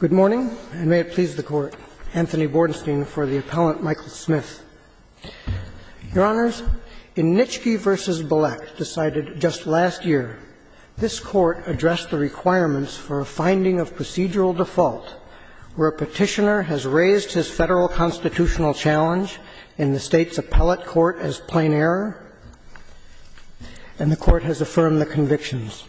Good morning, and may it please the Court, Anthony Bordenstein for the Appellant, Michael Smith. Your Honors, in Nitschke v. Bilek, decided just last year, this Court addressed the requirements for a finding of procedural default where a petitioner has raised his Federal constitutional challenge in the State's Appellate Court as plain error, and the Court has affirmed the convictions.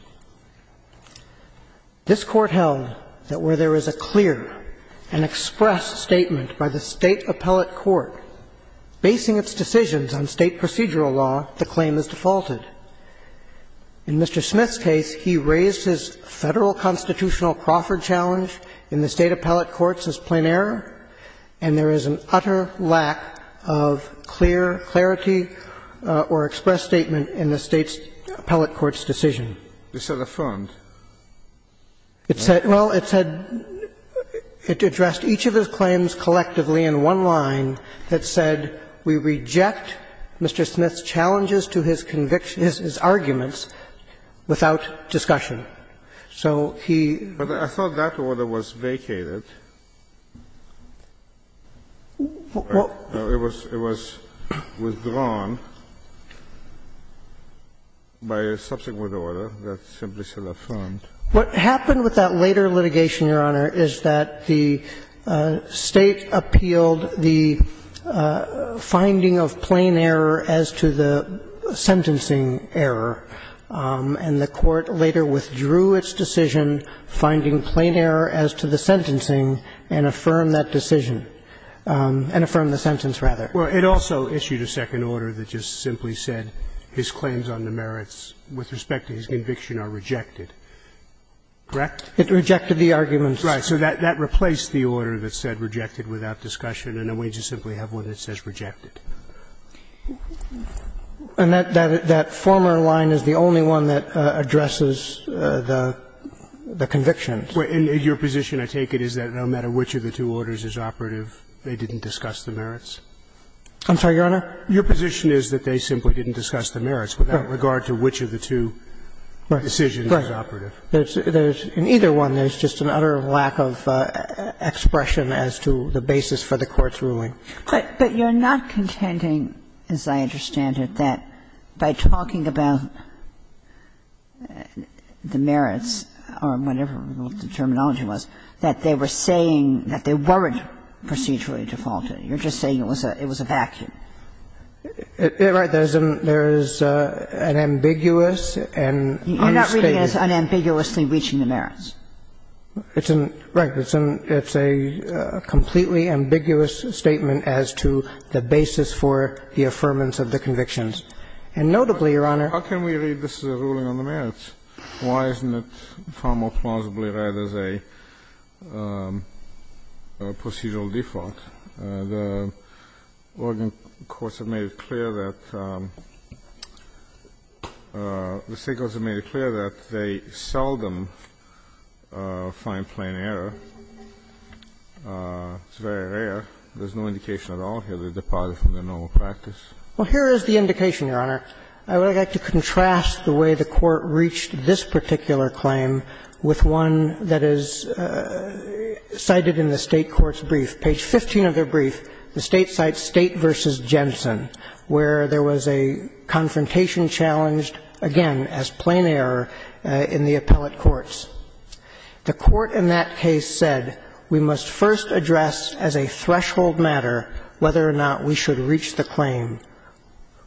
This Court held that where there is a clear and expressed statement by the State Appellate Court basing its decisions on State procedural law, the claim is defaulted. In Mr. Smith's case, he raised his Federal constitutional Crawford challenge in the State Appellate Court as plain error, and there is an utter lack of clear clarity or expressed statement in the State's Appellate Court's decision. It's not affirmed. It said — well, it said — it addressed each of his claims collectively in one line that said, we reject Mr. Smith's challenges to his conviction — his arguments without discussion. So he — But I thought that order was vacated. Well — It was withdrawn by a subsequent order. That's simply still affirmed. What happened with that later litigation, Your Honor, is that the State appealed the finding of plain error as to the sentencing error, and the Court later withdrew its decision finding plain error as to the sentencing and affirmed that decision — and affirmed the sentence, rather. Well, it also issued a second order that just simply said his claims on the merits with respect to his conviction are rejected. Correct? It rejected the arguments. Right. So that replaced the order that said rejected without discussion, and the wages simply have what it says rejected. And that former line is the only one that addresses the convictions. Your position, I take it, is that no matter which of the two orders is operative, they didn't discuss the merits? I'm sorry, Your Honor? Your position is that they simply didn't discuss the merits without regard to which of the two decisions is operative? Right. In either one, there's just an utter lack of expression as to the basis for the Court's ruling. But you're not contending, as I understand it, that by talking about the merits or whatever the terminology was, that they were saying that they weren't procedurally defaulted. You're just saying it was a vacuum. Right. There's an ambiguous and unstatement. You're not reading it as unambiguously reaching the merits. It's a completely ambiguous statement as to the basis for the affirmance of the convictions. And notably, Your Honor How can we read this as a ruling on the merits? Why isn't it far more plausibly read as a procedural default? The Oregon courts have made it clear that the State courts have made it clear that they seldom find plain error. It's very rare. There's no indication at all here they're departed from their normal practice. Well, here is the indication, Your Honor. I would like to contrast the way the Court reached this particular claim with one that is cited in the State court's brief. Page 15 of their brief, the State cites State v. Jensen, where there was a confrontation challenged, again, as plain error in the appellate courts. The Court in that case said, we must first address as a threshold matter whether or not we should reach the claim.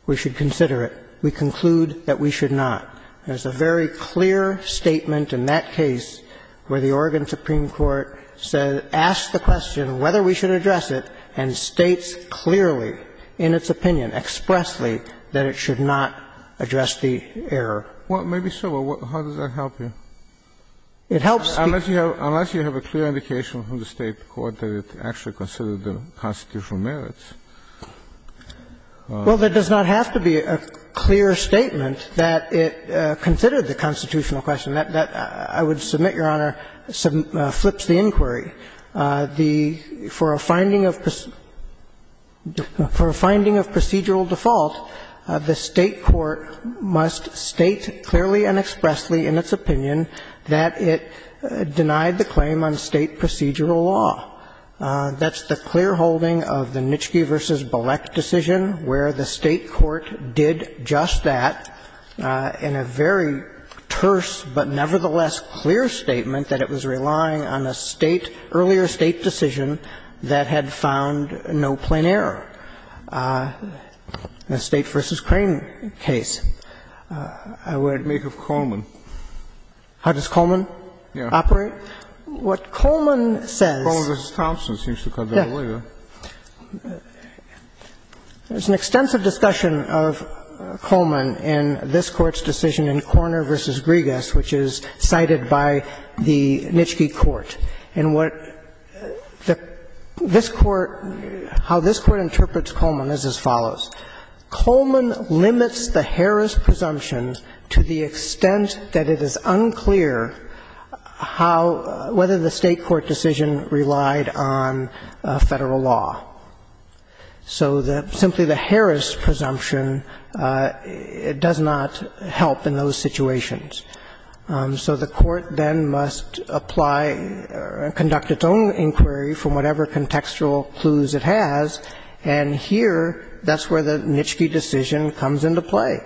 We should consider it. We conclude that we should not. There's a very clear statement in that case where the Oregon Supreme Court said, ask the question whether we should address it, and states clearly in its opinion, expressly, that it should not address the error. Well, maybe so, but how does that help you? It helps me. Unless you have a clear indication from the State court that it actually considered the constitutional merits. Well, there does not have to be a clear statement that it considered the constitutional question. That, I would submit, Your Honor, flips the inquiry. The – for a finding of procedural default, the State court must state clearly and expressly in its opinion that it denied the claim on State procedural law. That's the clear holding of the Nitschke v. Bolek decision, where the State court did just that in a very terse but nevertheless clear statement that it was relying on a State – earlier State decision that had found no plain error in the State v. Crane case. I would make of Coleman. How does Coleman operate? What Coleman says – Coleman v. Thompson seems to cut that away, though. There's an extensive discussion of Coleman in this Court's decision in Korner v. Griegas, which is cited by the Nitschke court. And what the – this Court – how this Court interprets Coleman is as follows. Coleman limits the Harris presumption to the extent that it is unclear how – whether the State court decision relied on Federal law. So the – simply the Harris presumption does not help in those situations. So the Court then must apply – conduct its own inquiry from whatever contextual clues it has, and here, that's where the Nitschke decision comes into play.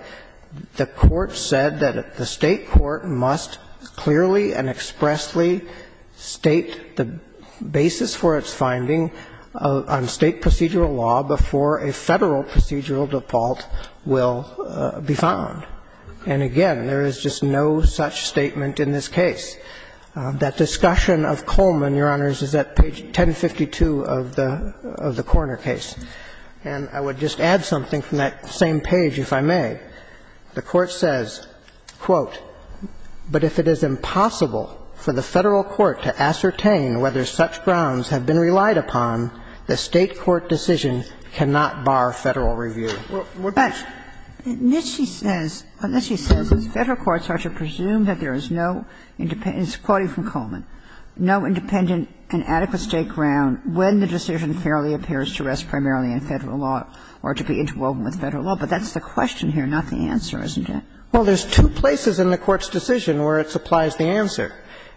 The Court said that the State court must clearly and expressly state the basis for its finding on State procedural law before a Federal procedural default will be found. And again, there is just no such statement in this case. That discussion of Coleman, Your Honors, is at page 1052 of the Korner case. And I would just add something from that same page, if I may. The Court says, quote, But if it is impossible for the Federal court to ascertain whether such grounds have been relied upon, the State court decision cannot bar Federal review. But Nitschke says, Nitschke says Federal courts are to presume that there is no independent – it's quoting from Coleman – no independent and adequate State ground when the decision fairly appears to rest primarily in Federal law or to be interwoven with Federal law. But that's the question here, not the answer, isn't it? Well, there's two places in the Court's decision where it supplies the answer.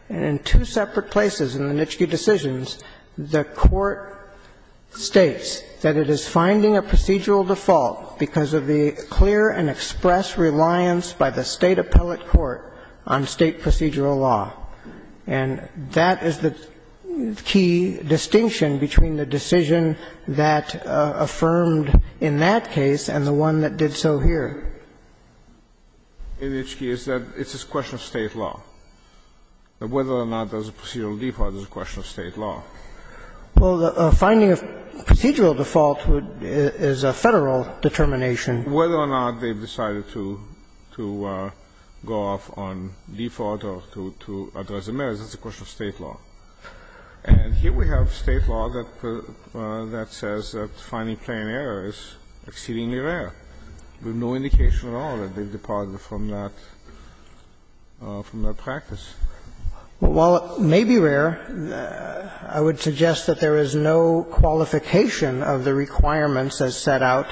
In two separate places in the Nitschke decisions, the Court states that it is finding a procedural default because of the clear and express reliance by the State appellate court on State procedural law. And that is the key distinction between the decision that affirmed in that case and the one that did so here. In Nitschke, it's a question of State law, whether or not there's a procedural default is a question of State law. Well, the finding of procedural default is a Federal determination. Whether or not they've decided to go off on default or to address the merits, that's a question of State law. And here we have State law that says that finding plain error is exceedingly rare, with no indication at all that they've departed from that practice. Well, while it may be rare, I would suggest that there is no qualification of the requirements as set out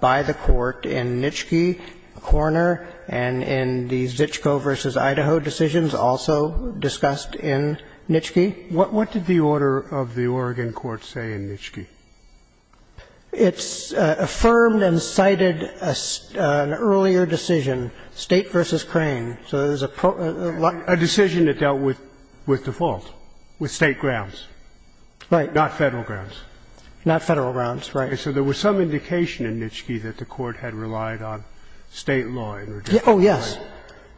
by the Court in Nitschke, Korner, and in the Zizko v. Idaho decisions also discussed in Nitschke. What did the order of the Oregon court say in Nitschke? It's affirmed and cited an earlier decision, State v. Crane. So there's a pro or a large decision that dealt with default, with State grounds. Right. Not Federal grounds. Not Federal grounds, right. So there was some indication in Nitschke that the Court had relied on State law in reducing crime. Oh, yes.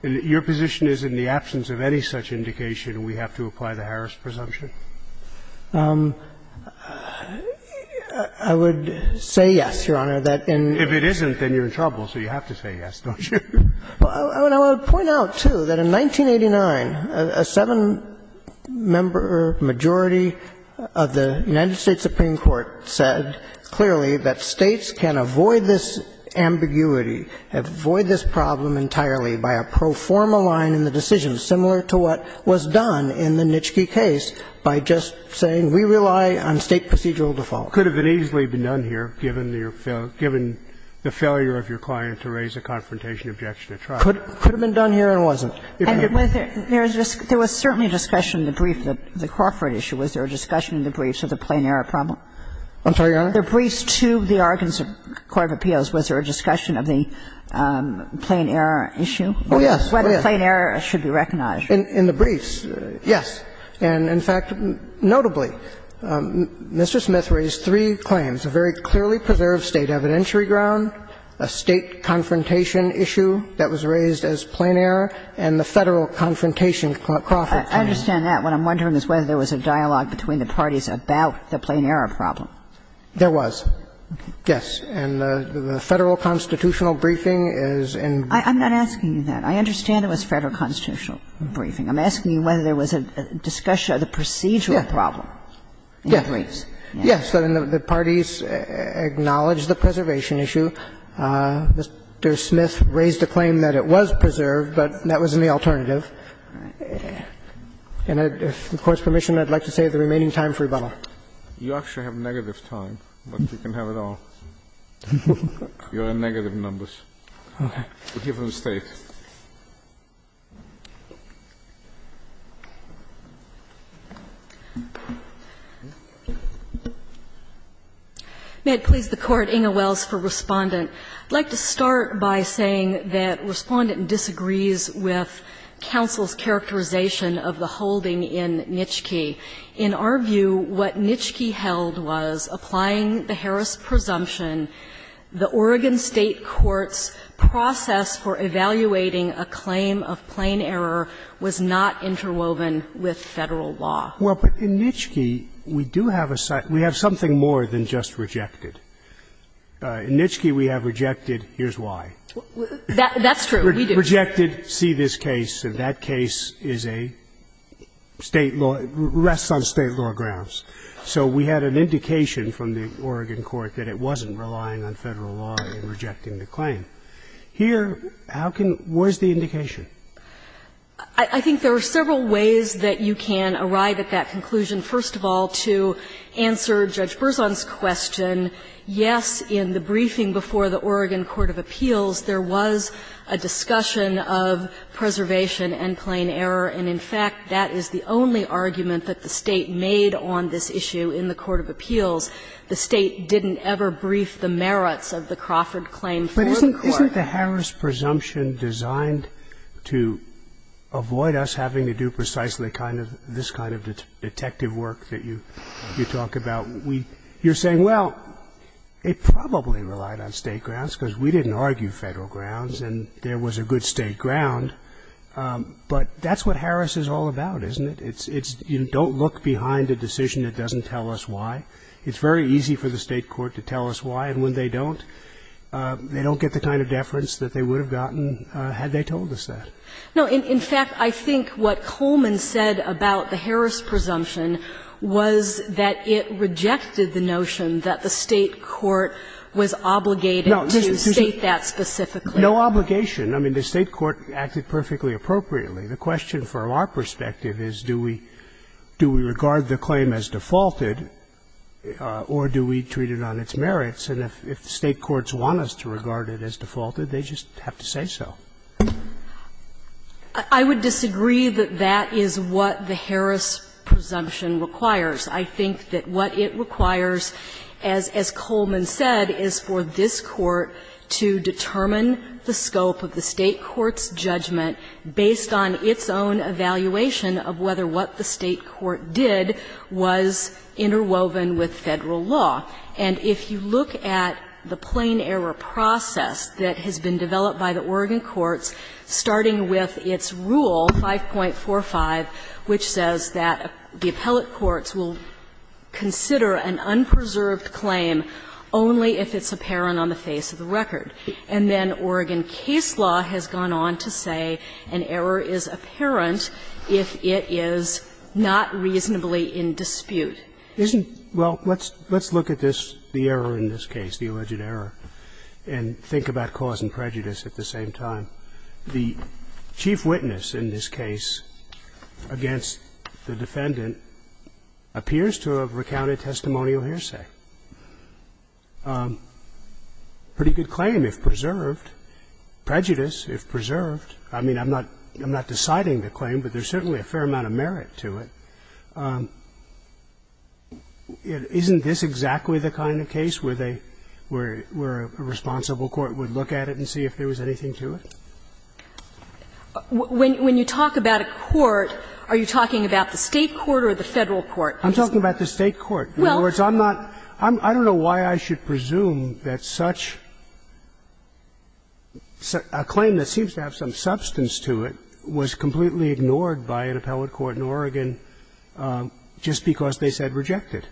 And your position is in the absence of any such indication, we have to apply the Harris presumption? I would say yes, Your Honor, that in the case of Nitschke, there was no indication And I would point out, too, that in 1989, a 7-member majority of the United States Supreme Court said clearly that States can avoid this ambiguity, avoid this problem entirely by a pro forma line in the decision, similar to what was done in the Nitschke case, by just saying we rely on State procedural default. Could have been easily been done here, given the failure of your client to raise a confrontation objection at trial. Could have been done here and wasn't. There was certainly discussion in the brief that the Crawford issue, was there a discussion in the briefs of the plain error problem? I'm sorry, Your Honor? The briefs to the Oregon court of appeals, was there a discussion of the plain error issue? Oh, yes. Whether plain error should be recognized. In the briefs, yes. And, in fact, notably, Mr. Smith raised three claims, a very clearly preserved State evidentiary ground, a State confrontation issue that was raised as plain error, and the Federal confrontation, Crawford claims. I understand that. What I'm wondering is whether there was a dialogue between the parties about the plain error problem. There was, yes. And the Federal constitutional briefing is in brief. I'm not asking you that. I understand it was Federal constitutional briefing. I'm asking you whether there was a discussion of the procedural problem in the briefs. Yes. So the parties acknowledged the preservation issue. Mr. Smith raised a claim that it was preserved, but that was in the alternative. And if the Court's permission, I'd like to save the remaining time for rebuttal. You actually have negative time, but you can have it all. You're on negative numbers. Okay. We'll give her the State. May it please the Court, Inge Wells for Respondent. I'd like to start by saying that Respondent disagrees with counsel's characterization of the holding in Nitschke. In our view, what Nitschke held was, applying the Harris presumption, the Oregon State court's process for evaluating a claim of plain error was not interwoven with Federal law. Well, but in Nitschke, we do have a side – we have something more than just rejected. In Nitschke, we have rejected. Here's why. That's true. We do. Rejected, see this case, and that case is a State law – rests on State law grounds. So we had an indication from the Oregon court that it wasn't relying on Federal law in rejecting the claim. Here, how can – where's the indication? I think there are several ways that you can arrive at that conclusion. First of all, to answer Judge Berzon's question, yes, in the briefing before the Oregon court of appeals, there was a discussion of preservation and plain error, and in fact, that is the only argument that the State made on this issue in the court of appeals. The State didn't ever brief the merits of the Crawford claim for the court. But isn't the Harris presumption designed to avoid us having to do precisely kind of this kind of detective work that you talk about? You're saying, well, it probably relied on State grounds, because we didn't argue Federal grounds, and there was a good State ground, but that's what Harris is all about, isn't it? It's – you don't look behind a decision that doesn't tell us why. It's very easy for the State court to tell us why, and when they don't, they don't get the kind of deference that they would have gotten had they told us that. No, in fact, I think what Coleman said about the Harris presumption was that it rejected the notion that the State court was obligated to state that specifically. No, just to say – no obligation. I mean, the State court acted perfectly appropriately. The question from our perspective is, do we – do we regard the claim as defaulted or do we treat it on its merits? And if State courts want us to regard it as defaulted, they just have to say so. I would disagree that that is what the Harris presumption requires. I think that what it requires, as Coleman said, is for this Court to determine the scope of the State court's judgment based on its own evaluation of whether what the State court did was interwoven with Federal law. And if you look at the plain error process that has been developed by the Oregon courts, starting with its rule, 5.45, which says that the appellate courts will consider an unpreserved claim only if it's apparent on the face of the record. And then Oregon case law has gone on to say an error is apparent if it is not reasonably in dispute. Isn't – well, let's look at this, the error in this case, the alleged error, and think about cause and prejudice at the same time. The chief witness in this case against the defendant appears to have recounted testimonial hearsay. Pretty good claim if preserved, prejudice if preserved. I mean, I'm not – I'm not deciding the claim, but there's certainly a fair amount of merit to it. Isn't this exactly the kind of case where they – where a responsible court would look at it and see if there was anything to it? When you talk about a court, are you talking about the State court or the Federal court? I'm talking about the State court. In other words, I'm not – I don't know why I should presume that such – a claim that seems to have some substance to it was completely ignored by an appellate court in Oregon just because they said rejected.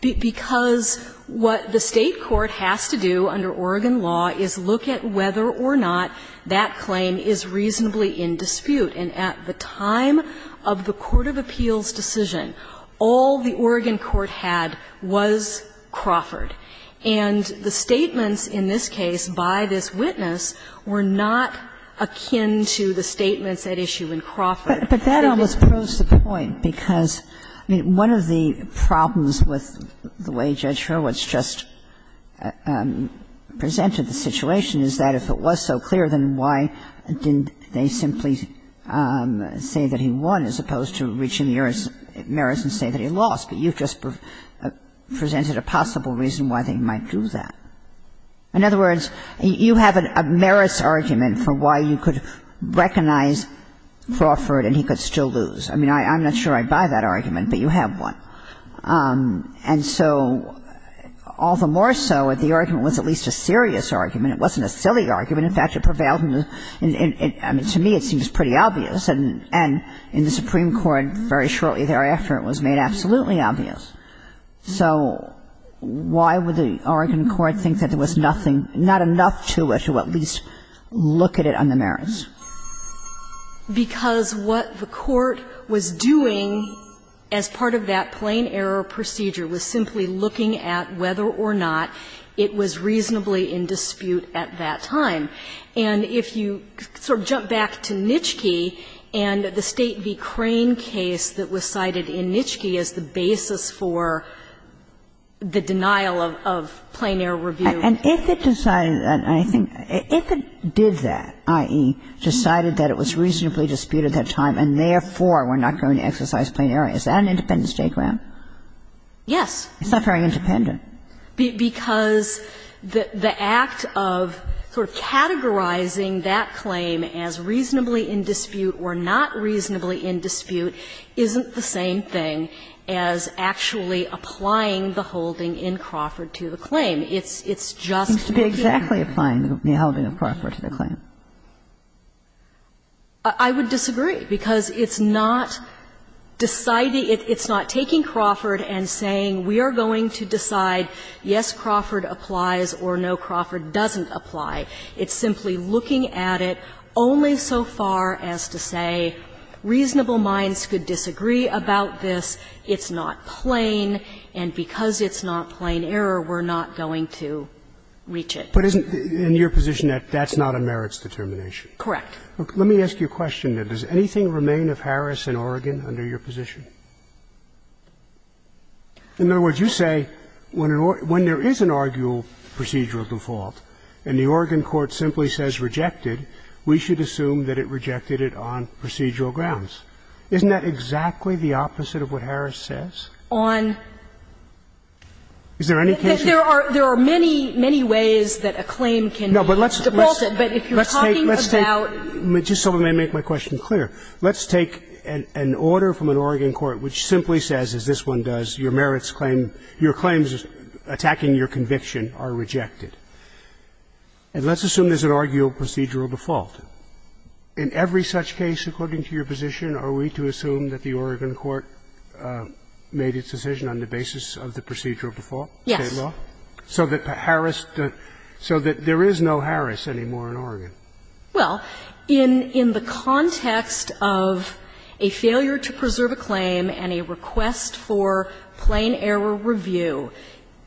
Because what the State court has to do under Oregon law is look at whether or not that claim is reasonably in dispute. And at the time of the court of appeals decision, all the Oregon court had was Crawford. And the statements in this case by this witness were not akin to the statements They didn't – But that almost proves the point, because, I mean, one of the problems with the way Judge Hurwitz just presented the situation is that if it was so clear, then why didn't they simply say that he won as opposed to reaching the merits and say that he lost? But you've just presented a possible reason why they might do that. In other words, you have a merits argument for why you could recognize Crawford and he could still lose. I mean, I'm not sure I buy that argument, but you have one. And so all the more so if the argument was at least a serious argument. It wasn't a silly argument. In fact, it prevailed in the – I mean, to me, it seems pretty obvious. And in the Supreme Court, very shortly thereafter, it was made absolutely obvious. So why would the Oregon court think that there was nothing – not enough to or to at least look at it on the merits? Because what the court was doing as part of that plain error procedure was simply looking at whether or not it was reasonably in dispute at that time. And if you sort of jump back to Nitschke and the State v. Crane case that was cited in Nitschke as the basis for the denial of plain error review. And if it decided that, I think – if it did that, i.e., decided that it was reasonably disputed at that time and therefore were not going to exercise plain error, is that an independent state grant? Yes. It's not very independent. Because the act of sort of categorizing that claim as reasonably in dispute or not reasonably in dispute isn't the same thing as actually applying the holding in Crawford to the claim. It's just the case. It seems to be exactly applying the holding of Crawford to the claim. I would disagree, because it's not deciding – it's not taking Crawford and saying, we are going to decide, yes, Crawford applies or no, Crawford doesn't apply. It's simply looking at it only so far as to say reasonable minds could disagree about this. It's not plain, and because it's not plain error, we're not going to reach it. But isn't – in your position, that's not a merits determination? Correct. Let me ask you a question, then. Does anything remain of Harris in Oregon under your position? In other words, you say when an – when there is an arguable procedural default and the Oregon court simply says rejected, we should assume that it rejected it on procedural grounds. Isn't that exactly the opposite of what Harris says? On – Is there any case? There are – there are many, many ways that a claim can be defaulted, but if you're talking about – Let's take – let's take – just so I may make my question clear. Let's take an order from an Oregon court which simply says, as this one does, your merits claim – your claims attacking your conviction are rejected. And let's assume there's an arguable procedural default. In every such case, according to your position, are we to assume that the Oregon court made its decision on the basis of the procedural default? Yes. State law? So that Harris – so that there is no Harris anymore in Oregon? Well, in – in the context of a failure to preserve a claim and a request for plain error review,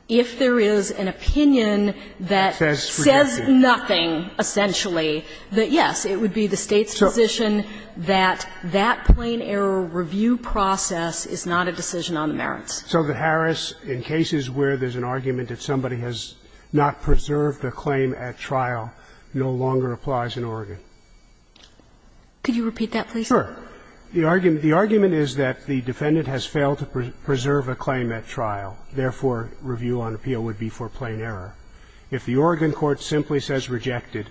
if there is an opinion that says nothing, essentially, that, yes, it would be the State's position that that plain error review process is not a decision on the merits. So that Harris, in cases where there's an argument that somebody has not preserved a claim at trial, no longer applies in Oregon. Could you repeat that, please? Sure. The argument – the argument is that the defendant has failed to preserve a claim at trial. Therefore, review on appeal would be for plain error. If the Oregon court simply says rejected,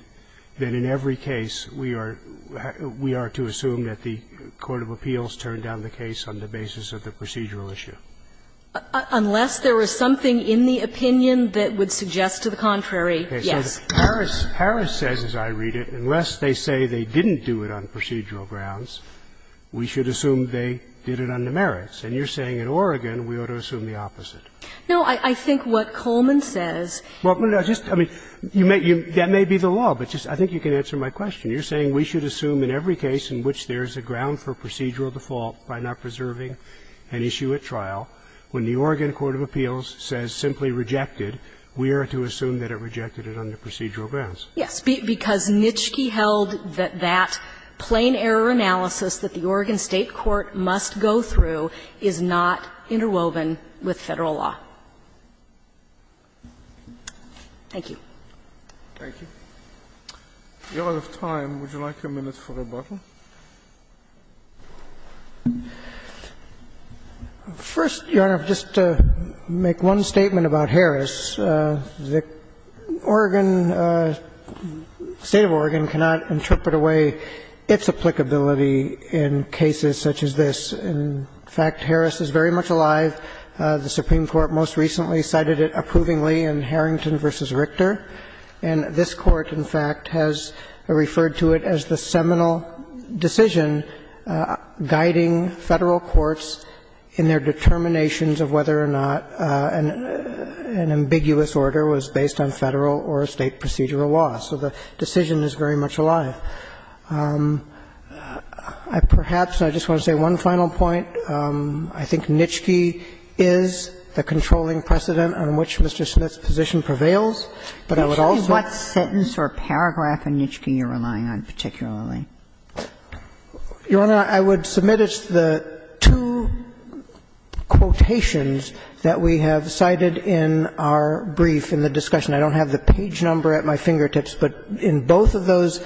then in every case we are – we are to assume that the court of appeals turned down the case on the basis of the procedural issue. Unless there is something in the opinion that would suggest to the contrary, yes. So Harris – Harris says, as I read it, unless they say they didn't do it on procedural grounds, we should assume they did it on the merits. And you're saying in Oregon we ought to assume the opposite. No. I think what Coleman says – Well, no, just – I mean, you may – that may be the law, but just – I think you can answer my question. You're saying we should assume in every case in which there is a ground for procedural default by not preserving an issue at trial, when the Oregon court of appeals says simply rejected, we are to assume that it rejected it on the procedural grounds. Yes. Because Nitschke held that that plain error analysis that the Oregon State court must go through is not interwoven with Federal law. Thank you. Thank you. We are out of time. Would you like a minute for rebuttal? First, Your Honor, just to make one statement about Harris, the Oregon – the State of Oregon cannot interpret away its applicability in cases such as this. In fact, Harris is very much alive. The Supreme Court most recently cited it approvingly in Harrington v. Richter. And this Court, in fact, has referred to it as the seminal case of the Supreme Court's decision guiding Federal courts in their determinations of whether or not an ambiguous order was based on Federal or State procedural law. So the decision is very much alive. I perhaps – I just want to say one final point. I think Nitschke is the controlling precedent on which Mr. Smith's position prevails. But I would also – Can you tell me what sentence or paragraph in Nitschke you're relying on particularly? Your Honor, I would submit it's the two quotations that we have cited in our brief in the discussion. I don't have the page number at my fingertips, but in both of those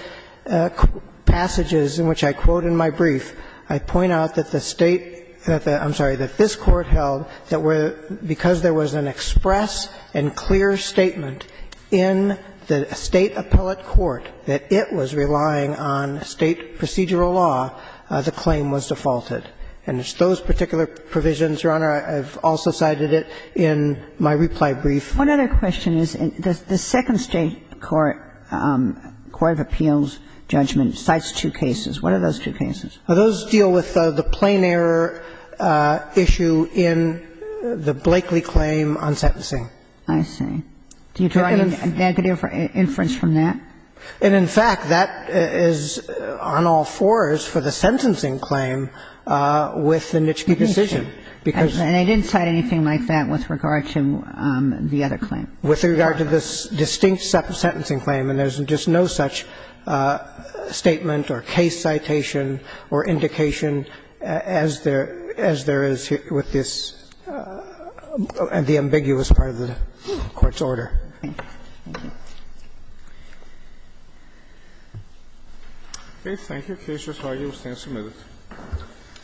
passages in which I quote in my brief, I point out that the State – I'm sorry – that this Court held that because there was an express and clear statement in the State appellate court that it was relying on State procedural law, the claim was defaulted. And it's those particular provisions, Your Honor, I've also cited it in my reply brief. One other question is, the second State court, court of appeals judgment, cites two cases. What are those two cases? Those deal with the plain error issue in the Blakeley claim on sentencing. I see. Do you have any negative inference from that? And, in fact, that is on all fours for the sentencing claim with the Nitschke decision. And I didn't cite anything like that with regard to the other claim. With regard to this distinct sentencing claim. And there's just no such statement or case citation or indication as there – as there is with this – the ambiguous part of the Court's order. Okay. Thank you. The case is argued and sentenced.